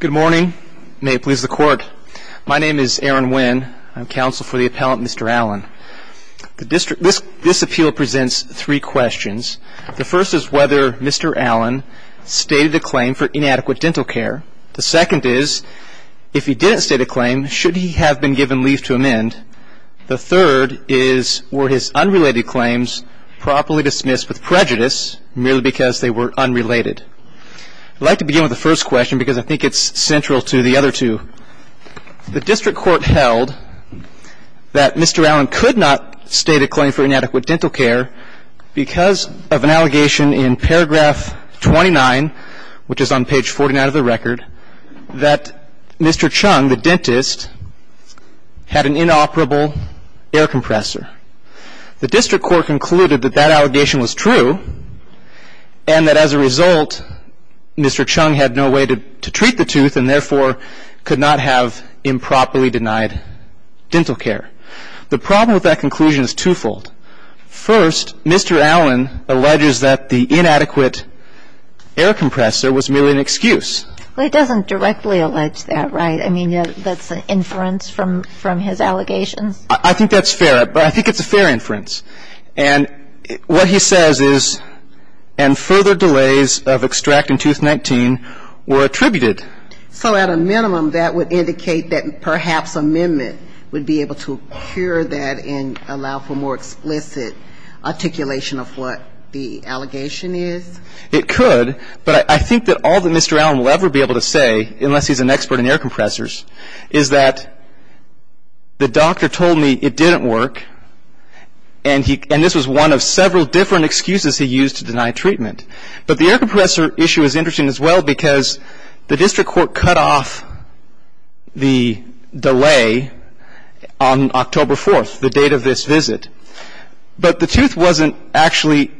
Good morning. May it please the Court. My name is Aaron Wynn. I'm counsel for the appellant, Mr. Allen. This appeal presents three questions. The first is whether Mr. Allen stated a claim for inadequate dental care. The second is, if he didn't state a claim, should he have been given leave to amend? The third is, were his unrelated claims properly dismissed with prejudice, merely because they were unrelated? I'd like to begin with the first question, because I think it's central to the other two. The District Court held that Mr. Allen could not state a claim for inadequate dental care because of an allegation in paragraph 29, which is on page 49 of the record, that Mr. Chung, the dentist, had an inoperable air compressor. The District Court concluded that that allegation was true, and that as a result, Mr. Chung had no way to treat the tooth, and therefore could not have improperly denied dental care. The problem with that conclusion is twofold. First, Mr. Allen alleges that the inadequate air compressor was merely an excuse. Well, he doesn't directly allege that, right? I mean, that's an inference from his allegations? I think that's fair, but I think it's a fair inference. And what he says is, and further delays of extract in Tooth 19 were attributed. So at a minimum, that would indicate that perhaps amendment would be able to cure that and allow for more explicit articulation of what the allegation is? It could, but I think that all that Mr. Allen will ever be able to say, unless he's an expert in air compressors, is that the doctor told me it didn't work, and this was one of several different excuses he used to deny treatment. But the air compressor issue is interesting as well because the District Court cut off the delay on October 4th, the date of this visit, but the tooth wasn't actually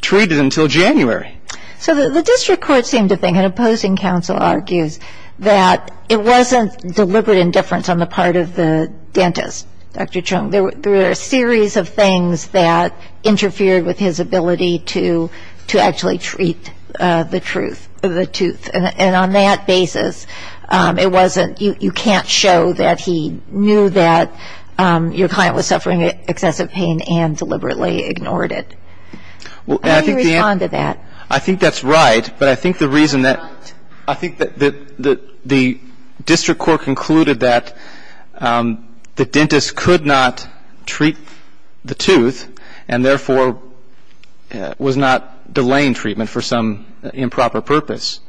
treated until January. So the District Court seemed to think, and opposing counsel argues, that it wasn't deliberate indifference on the part of the dentist, Dr. Chung. There were a series of things that interfered with his ability to actually treat the truth, the tooth. And on that basis, it wasn't you can't show that he knew that your client was suffering excessive pain and deliberately ignored it. How do you respond to that? I think that's right, but I think the reason that the District Court concluded that the dentist could not treat the tooth and therefore was not delaying treatment for some improper purpose.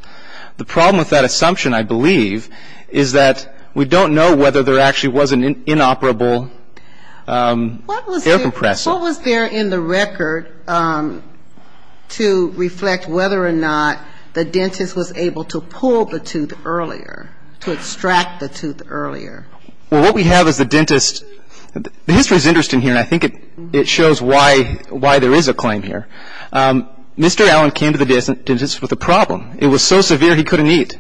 The problem with that assumption, I believe, is that we don't know whether there actually was an inoperable air compressor. What was there in the record to reflect whether or not the dentist was able to pull the tooth earlier, to extract the tooth earlier? Well, what we have is the dentist. The history is interesting here, and I think it shows why there is a claim here. Mr. Allen came to the dentist with a problem. It was so severe he couldn't eat.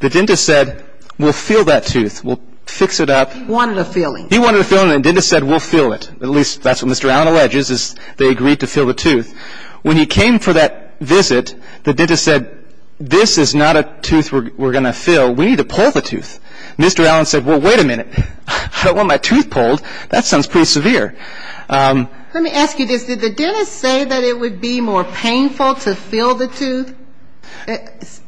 The dentist said, we'll fill that tooth. We'll fix it up. He wanted a filling. He wanted a filling, and the dentist said, we'll fill it. At least that's what Mr. Allen alleges is they agreed to fill the tooth. When he came for that visit, the dentist said, this is not a tooth we're going to fill. We need to pull the tooth. Mr. Allen said, well, wait a minute. I don't want my tooth pulled. That sounds pretty severe. Let me ask you this. Did the dentist say that it would be more painful to fill the tooth?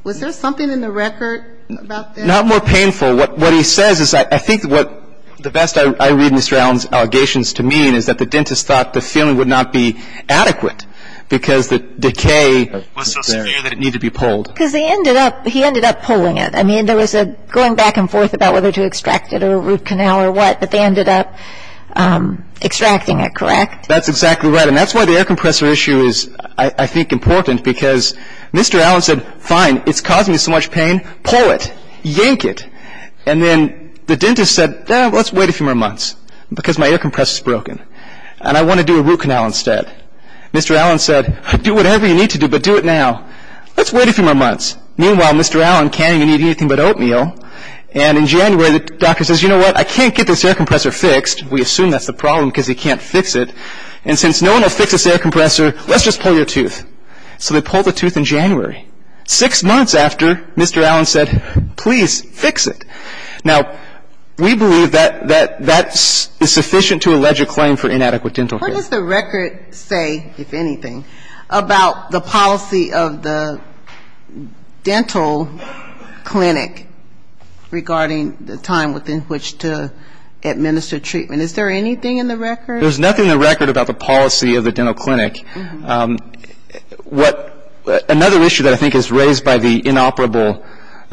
Was there something in the record about that? Not more painful. What he says is I think what the best I read Mr. Allen's allegations to mean is that the dentist thought the filling would not be adequate because the decay was so severe that it needed to be pulled. Because he ended up pulling it. I mean, there was a going back and forth about whether to extract it or root canal or what, but they ended up extracting it, correct? That's exactly right, and that's why the air compressor issue is, I think, important, because Mr. Allen said, fine, it's causing me so much pain. Pull it. Yank it. And then the dentist said, let's wait a few more months because my air compressor is broken and I want to do a root canal instead. Mr. Allen said, do whatever you need to do, but do it now. Let's wait a few more months. Meanwhile, Mr. Allen can't even eat anything but oatmeal, and in January the doctor says, you know what, I can't get this air compressor fixed. We assume that's the problem because he can't fix it. And since no one will fix this air compressor, let's just pull your tooth. So they pulled the tooth in January. Six months after, Mr. Allen said, please fix it. Now, we believe that that is sufficient to allege a claim for inadequate dental care. What does the record say, if anything, about the policy of the dental clinic regarding the time within which to administer treatment? Is there anything in the record? There's nothing in the record about the policy of the dental clinic. Another issue that I think is raised by the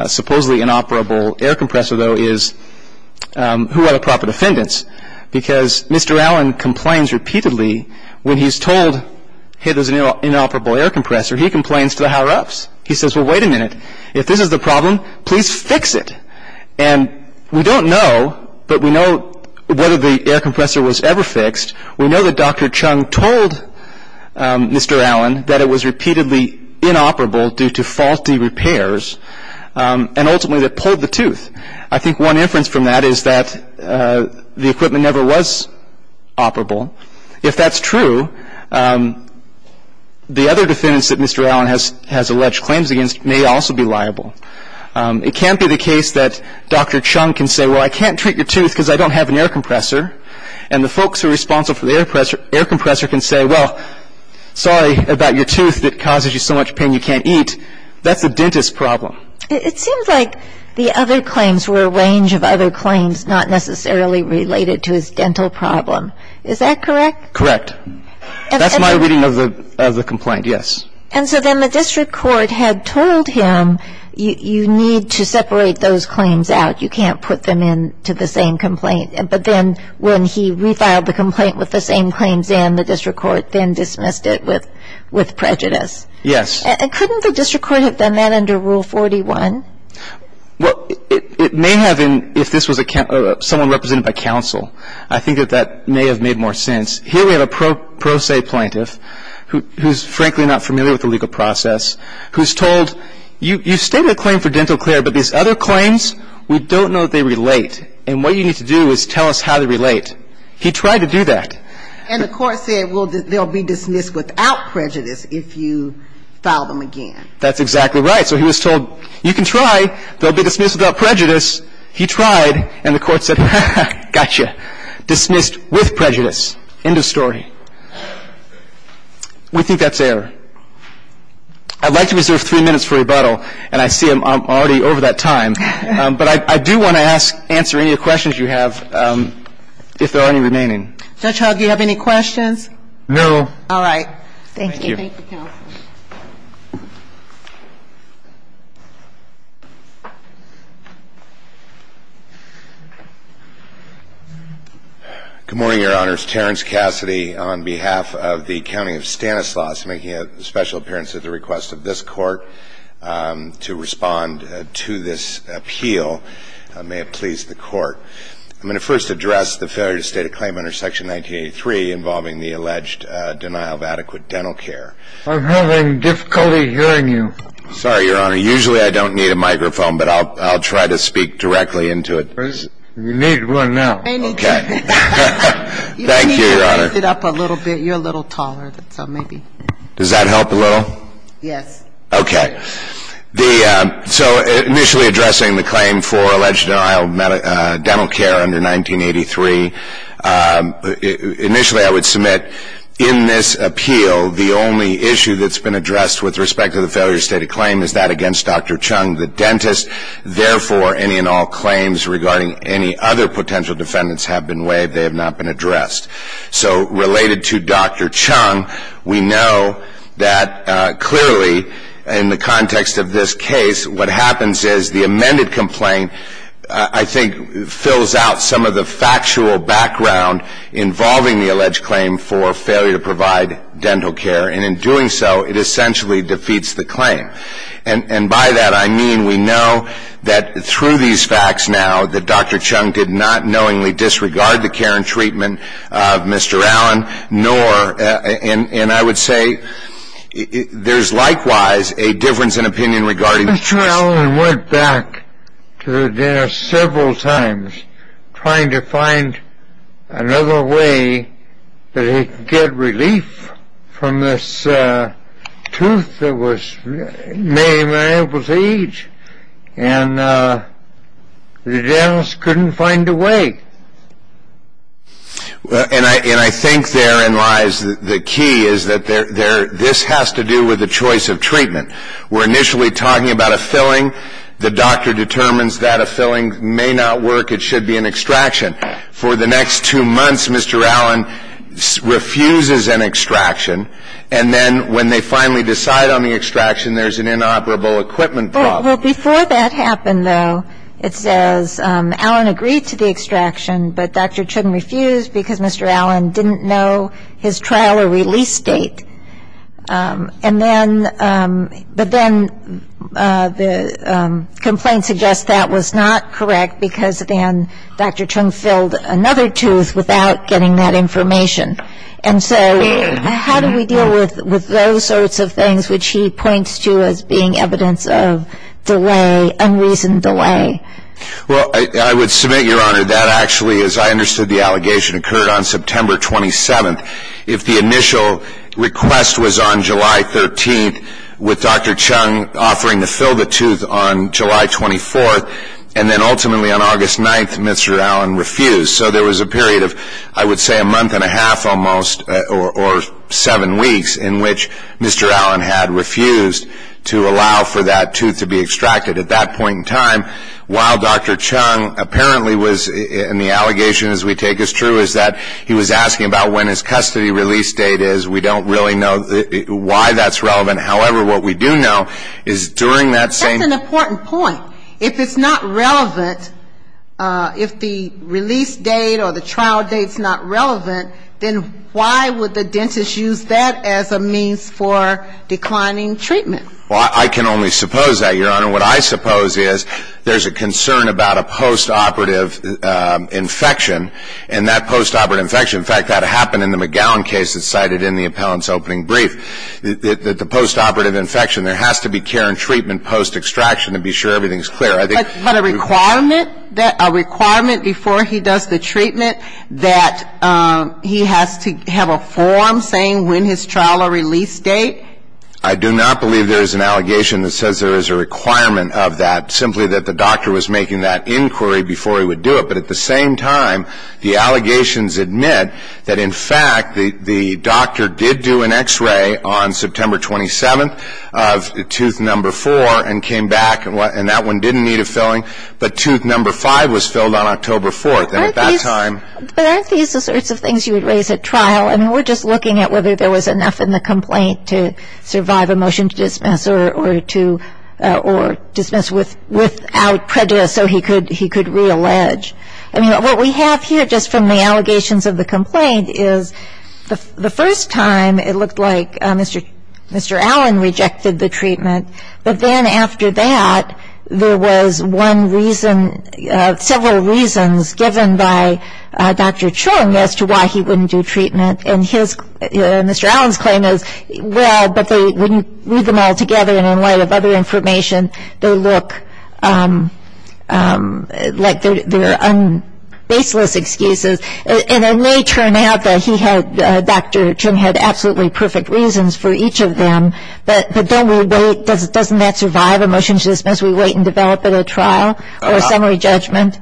supposedly inoperable air compressor, though, is who are the proper defendants? Because Mr. Allen complains repeatedly when he's told, hey, there's an inoperable air compressor. He complains to the higher-ups. He says, well, wait a minute. If this is the problem, please fix it. And we don't know, but we know whether the air compressor was ever fixed. We know that Dr. Chung told Mr. Allen that it was repeatedly inoperable due to faulty repairs and ultimately that pulled the tooth. I think one inference from that is that the equipment never was operable. If that's true, the other defendants that Mr. Allen has alleged claims against may also be liable. It can't be the case that Dr. Chung can say, well, I can't treat your tooth because I don't have an air compressor, and the folks who are responsible for the air compressor can say, well, sorry about your tooth that causes you so much pain you can't eat. That's the dentist's problem. It seems like the other claims were a range of other claims not necessarily related to his dental problem. Is that correct? Correct. That's my reading of the complaint, yes. And so then the district court had told him you need to separate those claims out. You can't put them into the same complaint. But then when he refiled the complaint with the same claims in, the district court then dismissed it with prejudice. Yes. Couldn't the district court have done that under Rule 41? Well, it may have if this was someone represented by counsel. I think that that may have made more sense. Here we have a pro se plaintiff who's frankly not familiar with the legal process who's told, you stated a claim for dental clear, but these other claims, we don't know that they relate. And what you need to do is tell us how they relate. He tried to do that. And the court said, well, they'll be dismissed without prejudice if you file them again. That's exactly right. So he was told, you can try. They'll be dismissed without prejudice. He tried. And the court said, gotcha, dismissed with prejudice. End of story. We think that's error. I'd like to reserve three minutes for rebuttal. And I see I'm already over that time. But I do want to ask, answer any questions you have if there are any remaining. Judge Hogg, do you have any questions? No. All right. Thank you. Thank you, counsel. Good morning, Your Honors. Terrence Cassidy on behalf of the County of Stanislaus, making a special appearance at the request of this Court to respond to this appeal. May it please the Court. I'm going to first address the failure to state a claim under Section 1983 involving the alleged denial of adequate dental care. I'm having difficulty hearing you. Sorry, Your Honor. Usually I don't need a microphone, but I'll try to speak directly into it. You need one now. Okay. Thank you, Your Honor. You need to raise it up a little bit. You're a little taller, so maybe. Does that help a little? Yes. Okay. So initially addressing the claim for alleged denial of dental care under 1983, initially I would submit in this appeal, the only issue that's been addressed with respect to the failure to state a claim is that against Dr. Chung, the dentist. Therefore, any and all claims regarding any other potential defendants have been waived. They have not been addressed. So related to Dr. Chung, we know that clearly in the context of this case, what happens is the amended complaint, I think, fills out some of the factual background involving the alleged claim for failure to provide dental care. And in doing so, it essentially defeats the claim. And by that, I mean we know that through these facts now, that Dr. Chung did not knowingly disregard the care and treatment of Mr. Allen, nor, and I would say, there's likewise a difference in opinion regarding the choice. Mr. Allen went back to the dentist several times, trying to find another way that he could get relief from this tooth that was made him unable to eat. And the dentist couldn't find a way. And I think therein lies the key is that this has to do with the choice of treatment. We're initially talking about a filling. The doctor determines that a filling may not work. It should be an extraction. For the next two months, Mr. Allen refuses an extraction. And then when they finally decide on the extraction, there's an inoperable equipment problem. Well, before that happened, though, it says Allen agreed to the extraction, but Dr. Chung refused because Mr. Allen didn't know his trial or release date. And then, but then the complaint suggests that was not correct because then Dr. Chung filled another tooth without getting that information. And so how do we deal with those sorts of things, which he points to as being evidence of delay, unreasoned delay? Well, I would submit, Your Honor, that actually, as I understood the allegation, occurred on September 27th. If the initial request was on July 13th, with Dr. Chung offering to fill the tooth on July 24th, and then ultimately on August 9th, Mr. Allen refused. So there was a period of, I would say, a month and a half almost, or seven weeks, in which Mr. Allen had refused to allow for that tooth to be extracted. At that point in time, while Dr. Chung apparently was in the allegation, as we take as true, is that he was asking about when his custody release date is. We don't really know why that's relevant. However, what we do know is during that same ---- That's an important point. If it's not relevant, if the release date or the trial date's not relevant, then why would the dentist use that as a means for declining treatment? Well, I can only suppose that, Your Honor. What I suppose is there's a concern about a postoperative infection, and that postoperative infection, in fact, that happened in the McGowan case that's cited in the appellant's opening brief, that the postoperative infection, there has to be care and treatment post-extraction to be sure everything's clear. But a requirement before he does the treatment that he has to have a form saying when his trial or release date? I do not believe there is an allegation that says there is a requirement of that, simply that the doctor was making that inquiry before he would do it. But at the same time, the allegations admit that, in fact, the doctor did do an X-ray on September 27th of tooth number four and came back, and that one didn't need a filling, but tooth number five was filled on October 4th. And at that time ---- But aren't these the sorts of things you would raise at trial? I mean, we're just looking at whether there was enough in the complaint to survive a motion to dismiss or dismiss without prejudice so he could reallege. I mean, what we have here, just from the allegations of the complaint, is the first time it looked like Mr. Allen rejected the treatment, but then after that there was one reason, several reasons, given by Dr. Chung as to why he wouldn't do treatment. And Mr. Allen's claim is, well, but they wouldn't read them all together, and in light of other information they look like they're baseless excuses. And it may turn out that Dr. Chung had absolutely perfect reasons for each of them, but don't we wait? Doesn't that survive a motion to dismiss? We wait and develop at a trial or a summary judgment?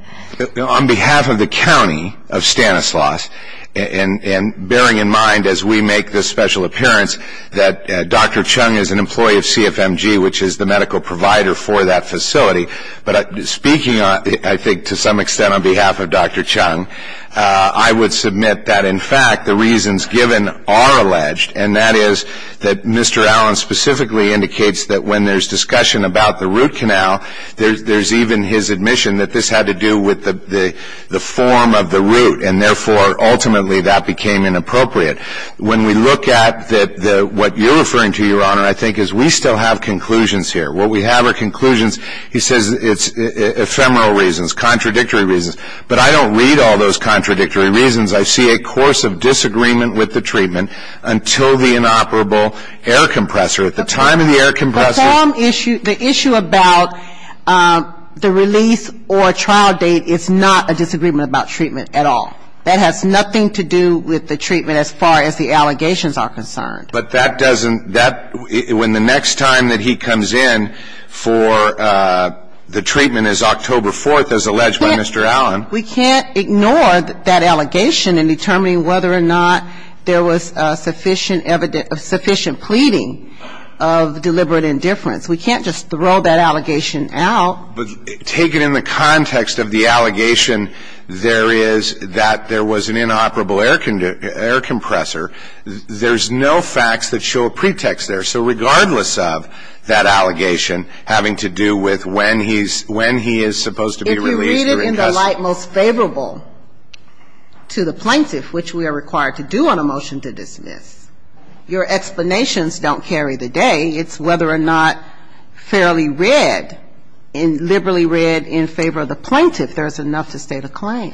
On behalf of the county of Stanislaus, and bearing in mind as we make this special appearance that Dr. Chung is an employee of CFMG, which is the medical provider for that facility. But speaking, I think, to some extent on behalf of Dr. Chung, I would submit that, in fact, the reasons given are alleged, and that is that Mr. Allen specifically indicates that when there's discussion about the root canal, there's even his admission that this had to do with the form of the root and therefore ultimately that became inappropriate. When we look at what you're referring to, Your Honor, I think is we still have conclusions here. What we have are conclusions. He says it's ephemeral reasons, contradictory reasons. But I don't read all those contradictory reasons. I see a course of disagreement with the treatment until the inoperable air compressor. At the time of the air compressor. The issue about the release or trial date is not a disagreement about treatment at all. That has nothing to do with the treatment as far as the allegations are concerned. But that doesn't, that, when the next time that he comes in for the treatment is October 4th, as alleged by Mr. Allen. We can't ignore that allegation in determining whether or not there was sufficient evidence, sufficient pleading of deliberate indifference. We can't just throw that allegation out. But taken in the context of the allegation there is that there was an inoperable air compressor, there's no facts that show a pretext there. So regardless of that allegation having to do with when he is supposed to be released. If you read it in the light most favorable to the plaintiff, which we are required to do on a motion to dismiss. Your explanations don't carry the day. It's whether or not fairly read and liberally read in favor of the plaintiff, there's enough to state a claim.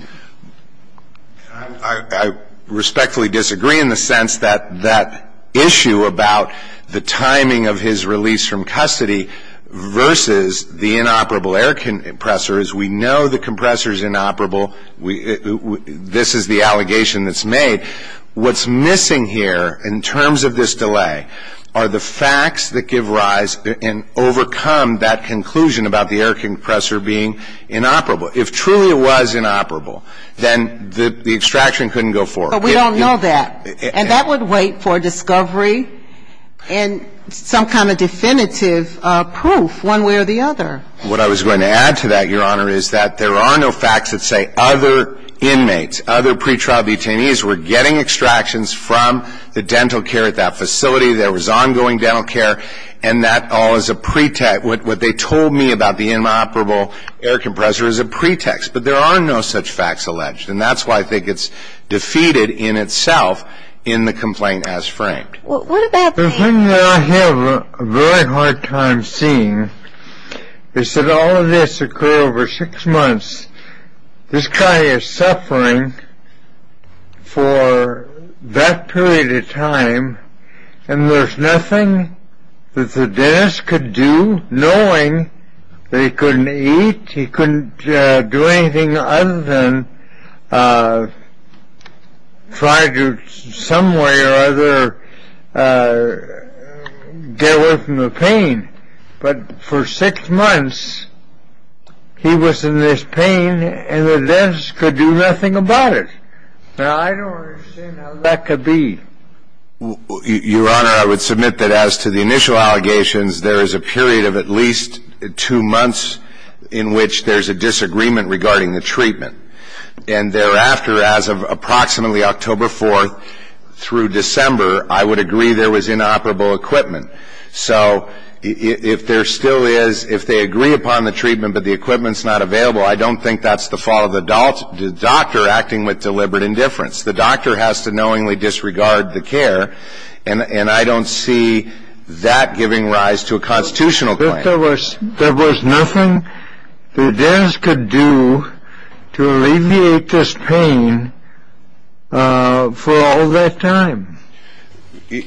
I respectfully disagree in the sense that that issue about the timing of his release from custody versus the inoperable air compressor is we know the compressor is inoperable. This is the allegation that's made. What's missing here in terms of this delay are the facts that give rise and overcome that conclusion about the air compressor being inoperable. If truly it was inoperable, then the extraction couldn't go forward. But we don't know that. And that would wait for discovery and some kind of definitive proof one way or the other. What I was going to add to that, Your Honor, is that there are no facts that say other inmates, other pretrial detainees were getting extractions from the dental care at that facility. There was ongoing dental care. And that all is a pretext. What they told me about the inoperable air compressor is a pretext. But there are no such facts alleged. And that's why I think it's defeated in itself in the complaint as framed. The thing that I have a very hard time seeing is that all of this occurred over six months. This guy is suffering for that period of time, and there's nothing that the dentist could do knowing that he couldn't eat, he couldn't do anything other than try to some way or other get away from the pain. But for six months, he was in this pain, and the dentist could do nothing about it. Now, I don't understand how that could be. Your Honor, I would submit that as to the initial allegations, there is a period of at least two months in which there's a disagreement regarding the treatment. And thereafter, as of approximately October 4th through December, I would agree there was inoperable equipment. So if there still is, if they agree upon the treatment but the equipment's not available, I don't think that's the fault of the doctor acting with deliberate indifference. The doctor has to knowingly disregard the care, and I don't see that giving rise to a constitutional claim. There was nothing the dentist could do to alleviate this pain for all that time?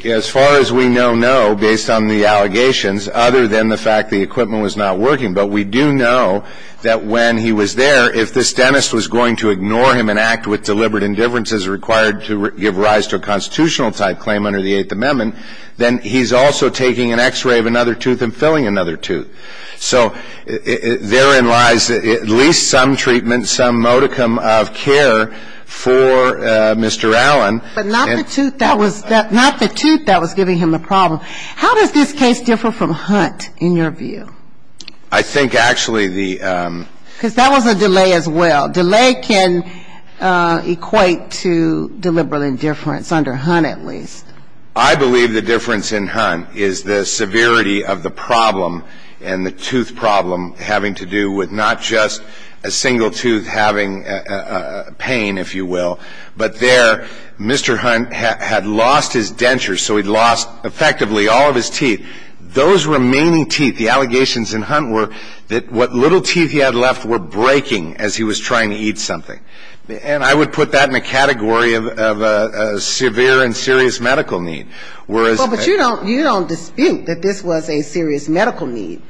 As far as we know, no, based on the allegations, other than the fact the equipment was not working. But we do know that when he was there, if this dentist was going to ignore him and act with deliberate indifference, as required to give rise to a constitutional-type claim under the Eighth Amendment, then he's also taking an X-ray of another tooth and filling another tooth. So therein lies at least some treatment, some modicum of care for Mr. Allen. But not the tooth that was giving him the problem. How does this case differ from Hunt in your view? I think actually the ‑‑ Because that was a delay as well. Delay can equate to deliberate indifference, under Hunt at least. I believe the difference in Hunt is the severity of the problem and the tooth problem having to do with not just a single tooth having pain, if you will, but there Mr. Hunt had lost his dentures, so he'd lost effectively all of his teeth. Those remaining teeth, the allegations in Hunt were that what little teeth he had left were breaking as he was trying to eat something. And I would put that in a category of a severe and serious medical need. Well, but you don't dispute that this was a serious medical need.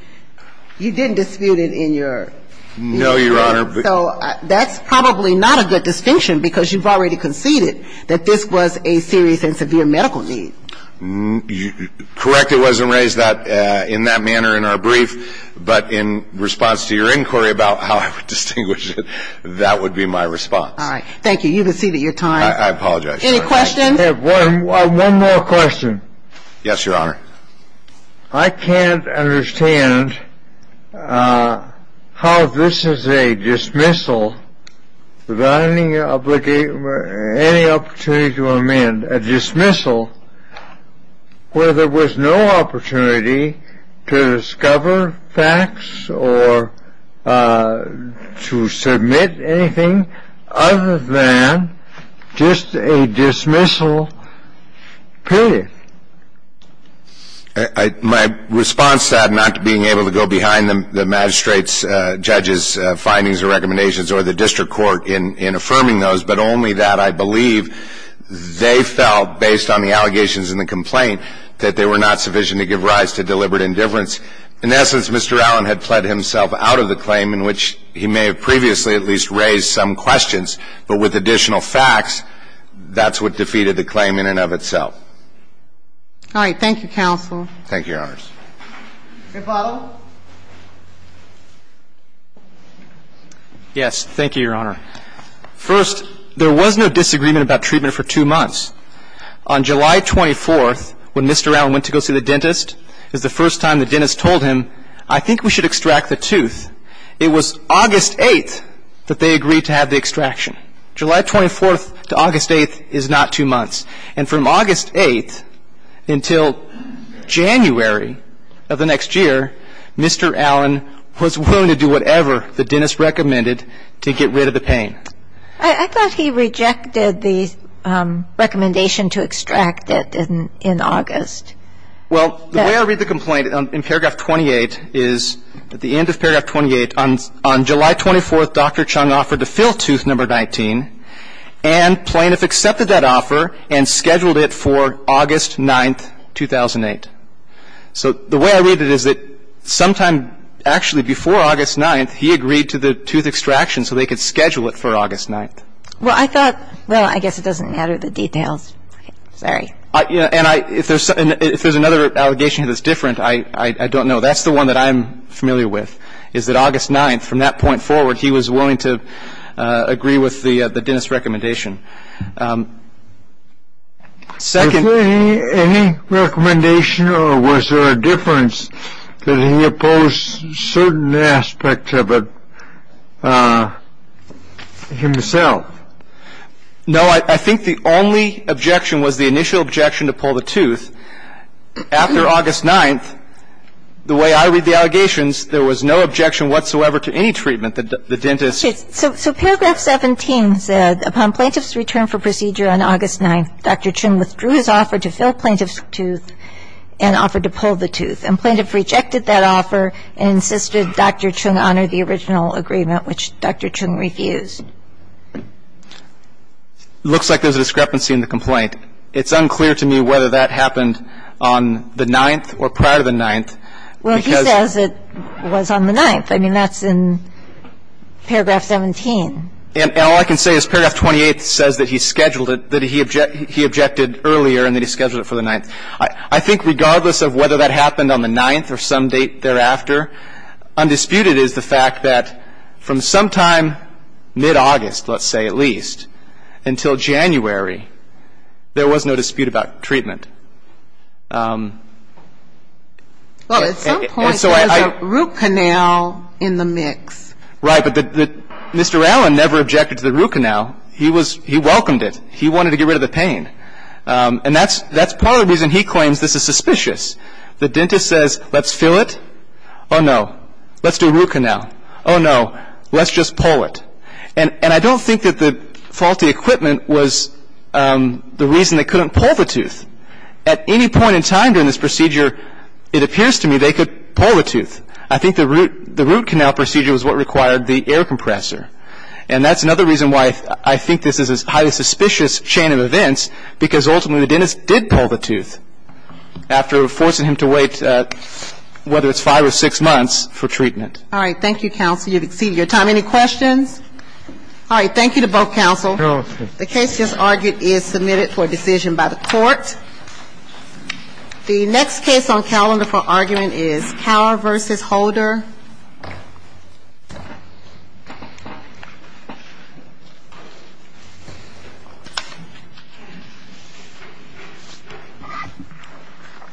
You didn't dispute it in your opinion. No, Your Honor. So that's probably not a good distinction, because you've already conceded that this was a serious and severe medical need. Correct. It wasn't raised in that manner in our brief. But in response to your inquiry about how I would distinguish it, that would be my response. All right. Thank you. You conceded your time. I apologize. Any questions? I have one more question. Yes, Your Honor. I can't understand how this is a dismissal without any opportunity to amend. A dismissal where there was no opportunity to discover facts or to submit anything other than just a dismissal period. My response to that, not being able to go behind the magistrate's judges' findings or recommendations or the district court in affirming those, but only that I believe they felt, based on the allegations in the complaint, that they were not sufficient to give rise to deliberate indifference. In essence, Mr. Allen had pled himself out of the claim, in which he may have previously at least raised some questions. But with additional facts, that's what defeated the claim in and of itself. All right. Thank you, counsel. Thank you, Your Honors. May I follow? Yes. Thank you, Your Honor. First, there was no disagreement about treatment for two months. On July 24th, when Mr. Allen went to go see the dentist, is the first time the dentist told him, I think we should extract the tooth. It was August 8th that they agreed to have the extraction. July 24th to August 8th is not two months. And from August 8th until January of the next year, Mr. Allen was willing to do whatever the dentist recommended to get rid of the pain. I thought he rejected the recommendation to extract it in August. Well, the way I read the complaint in paragraph 28 is, at the end of paragraph 28, on July 24th, Dr. Chung offered to fill tooth number 19, and Plainiff accepted that offer and scheduled it for August 9th, 2008. So the way I read it is that sometime actually before August 9th, he agreed to the tooth extraction so they could schedule it for August 9th. Well, I thought, well, I guess it doesn't matter the details. Sorry. And if there's another allegation that's different, I don't know. That's the one that I'm familiar with, is that August 9th, from that point forward, he was willing to agree with the dentist's recommendation. Is there any recommendation, or was there a difference that he opposed certain aspects of it himself? No. I think the only objection was the initial objection to pull the tooth. After August 9th, the way I read the allegations, there was no objection whatsoever to any treatment that the dentist. So paragraph 17 said, upon Plaintiff's return for procedure on August 9th, Dr. Chung withdrew his offer to fill Plaintiff's tooth and offered to pull the tooth. And Plaintiff rejected that offer and insisted Dr. Chung honor the original agreement, which Dr. Chung refused. It looks like there's a discrepancy in the complaint. It's unclear to me whether that happened on the 9th or prior to the 9th. Well, he says it was on the 9th. I mean, that's in paragraph 17. And all I can say is paragraph 28 says that he scheduled it, that he objected earlier and that he scheduled it for the 9th. I think regardless of whether that happened on the 9th or some date thereafter, undisputed is the fact that from sometime mid-August, let's say at least, until January, there was no dispute about treatment. Well, at some point there was a root canal in the mix. Right. But Mr. Allen never objected to the root canal. He was ‑‑ he welcomed it. He wanted to get rid of the pain. And that's part of the reason he claims this is suspicious. The dentist says, let's fill it. Oh, no. Let's do a root canal. Oh, no. Let's just pull it. And I don't think that the faulty equipment was the reason they couldn't pull the tooth. At any point in time during this procedure, it appears to me they could pull the tooth. I think the root canal procedure was what required the air compressor. And that's another reason why I think this is a highly suspicious chain of events, because ultimately the dentist did pull the tooth after forcing him to wait whether it's five or six months for treatment. All right. Thank you, counsel. You've exceeded your time. Any questions? All right. Thank you to both counsel. The case just argued is submitted for decision by the court. The next case on calendar for argument is Cower v. Holder.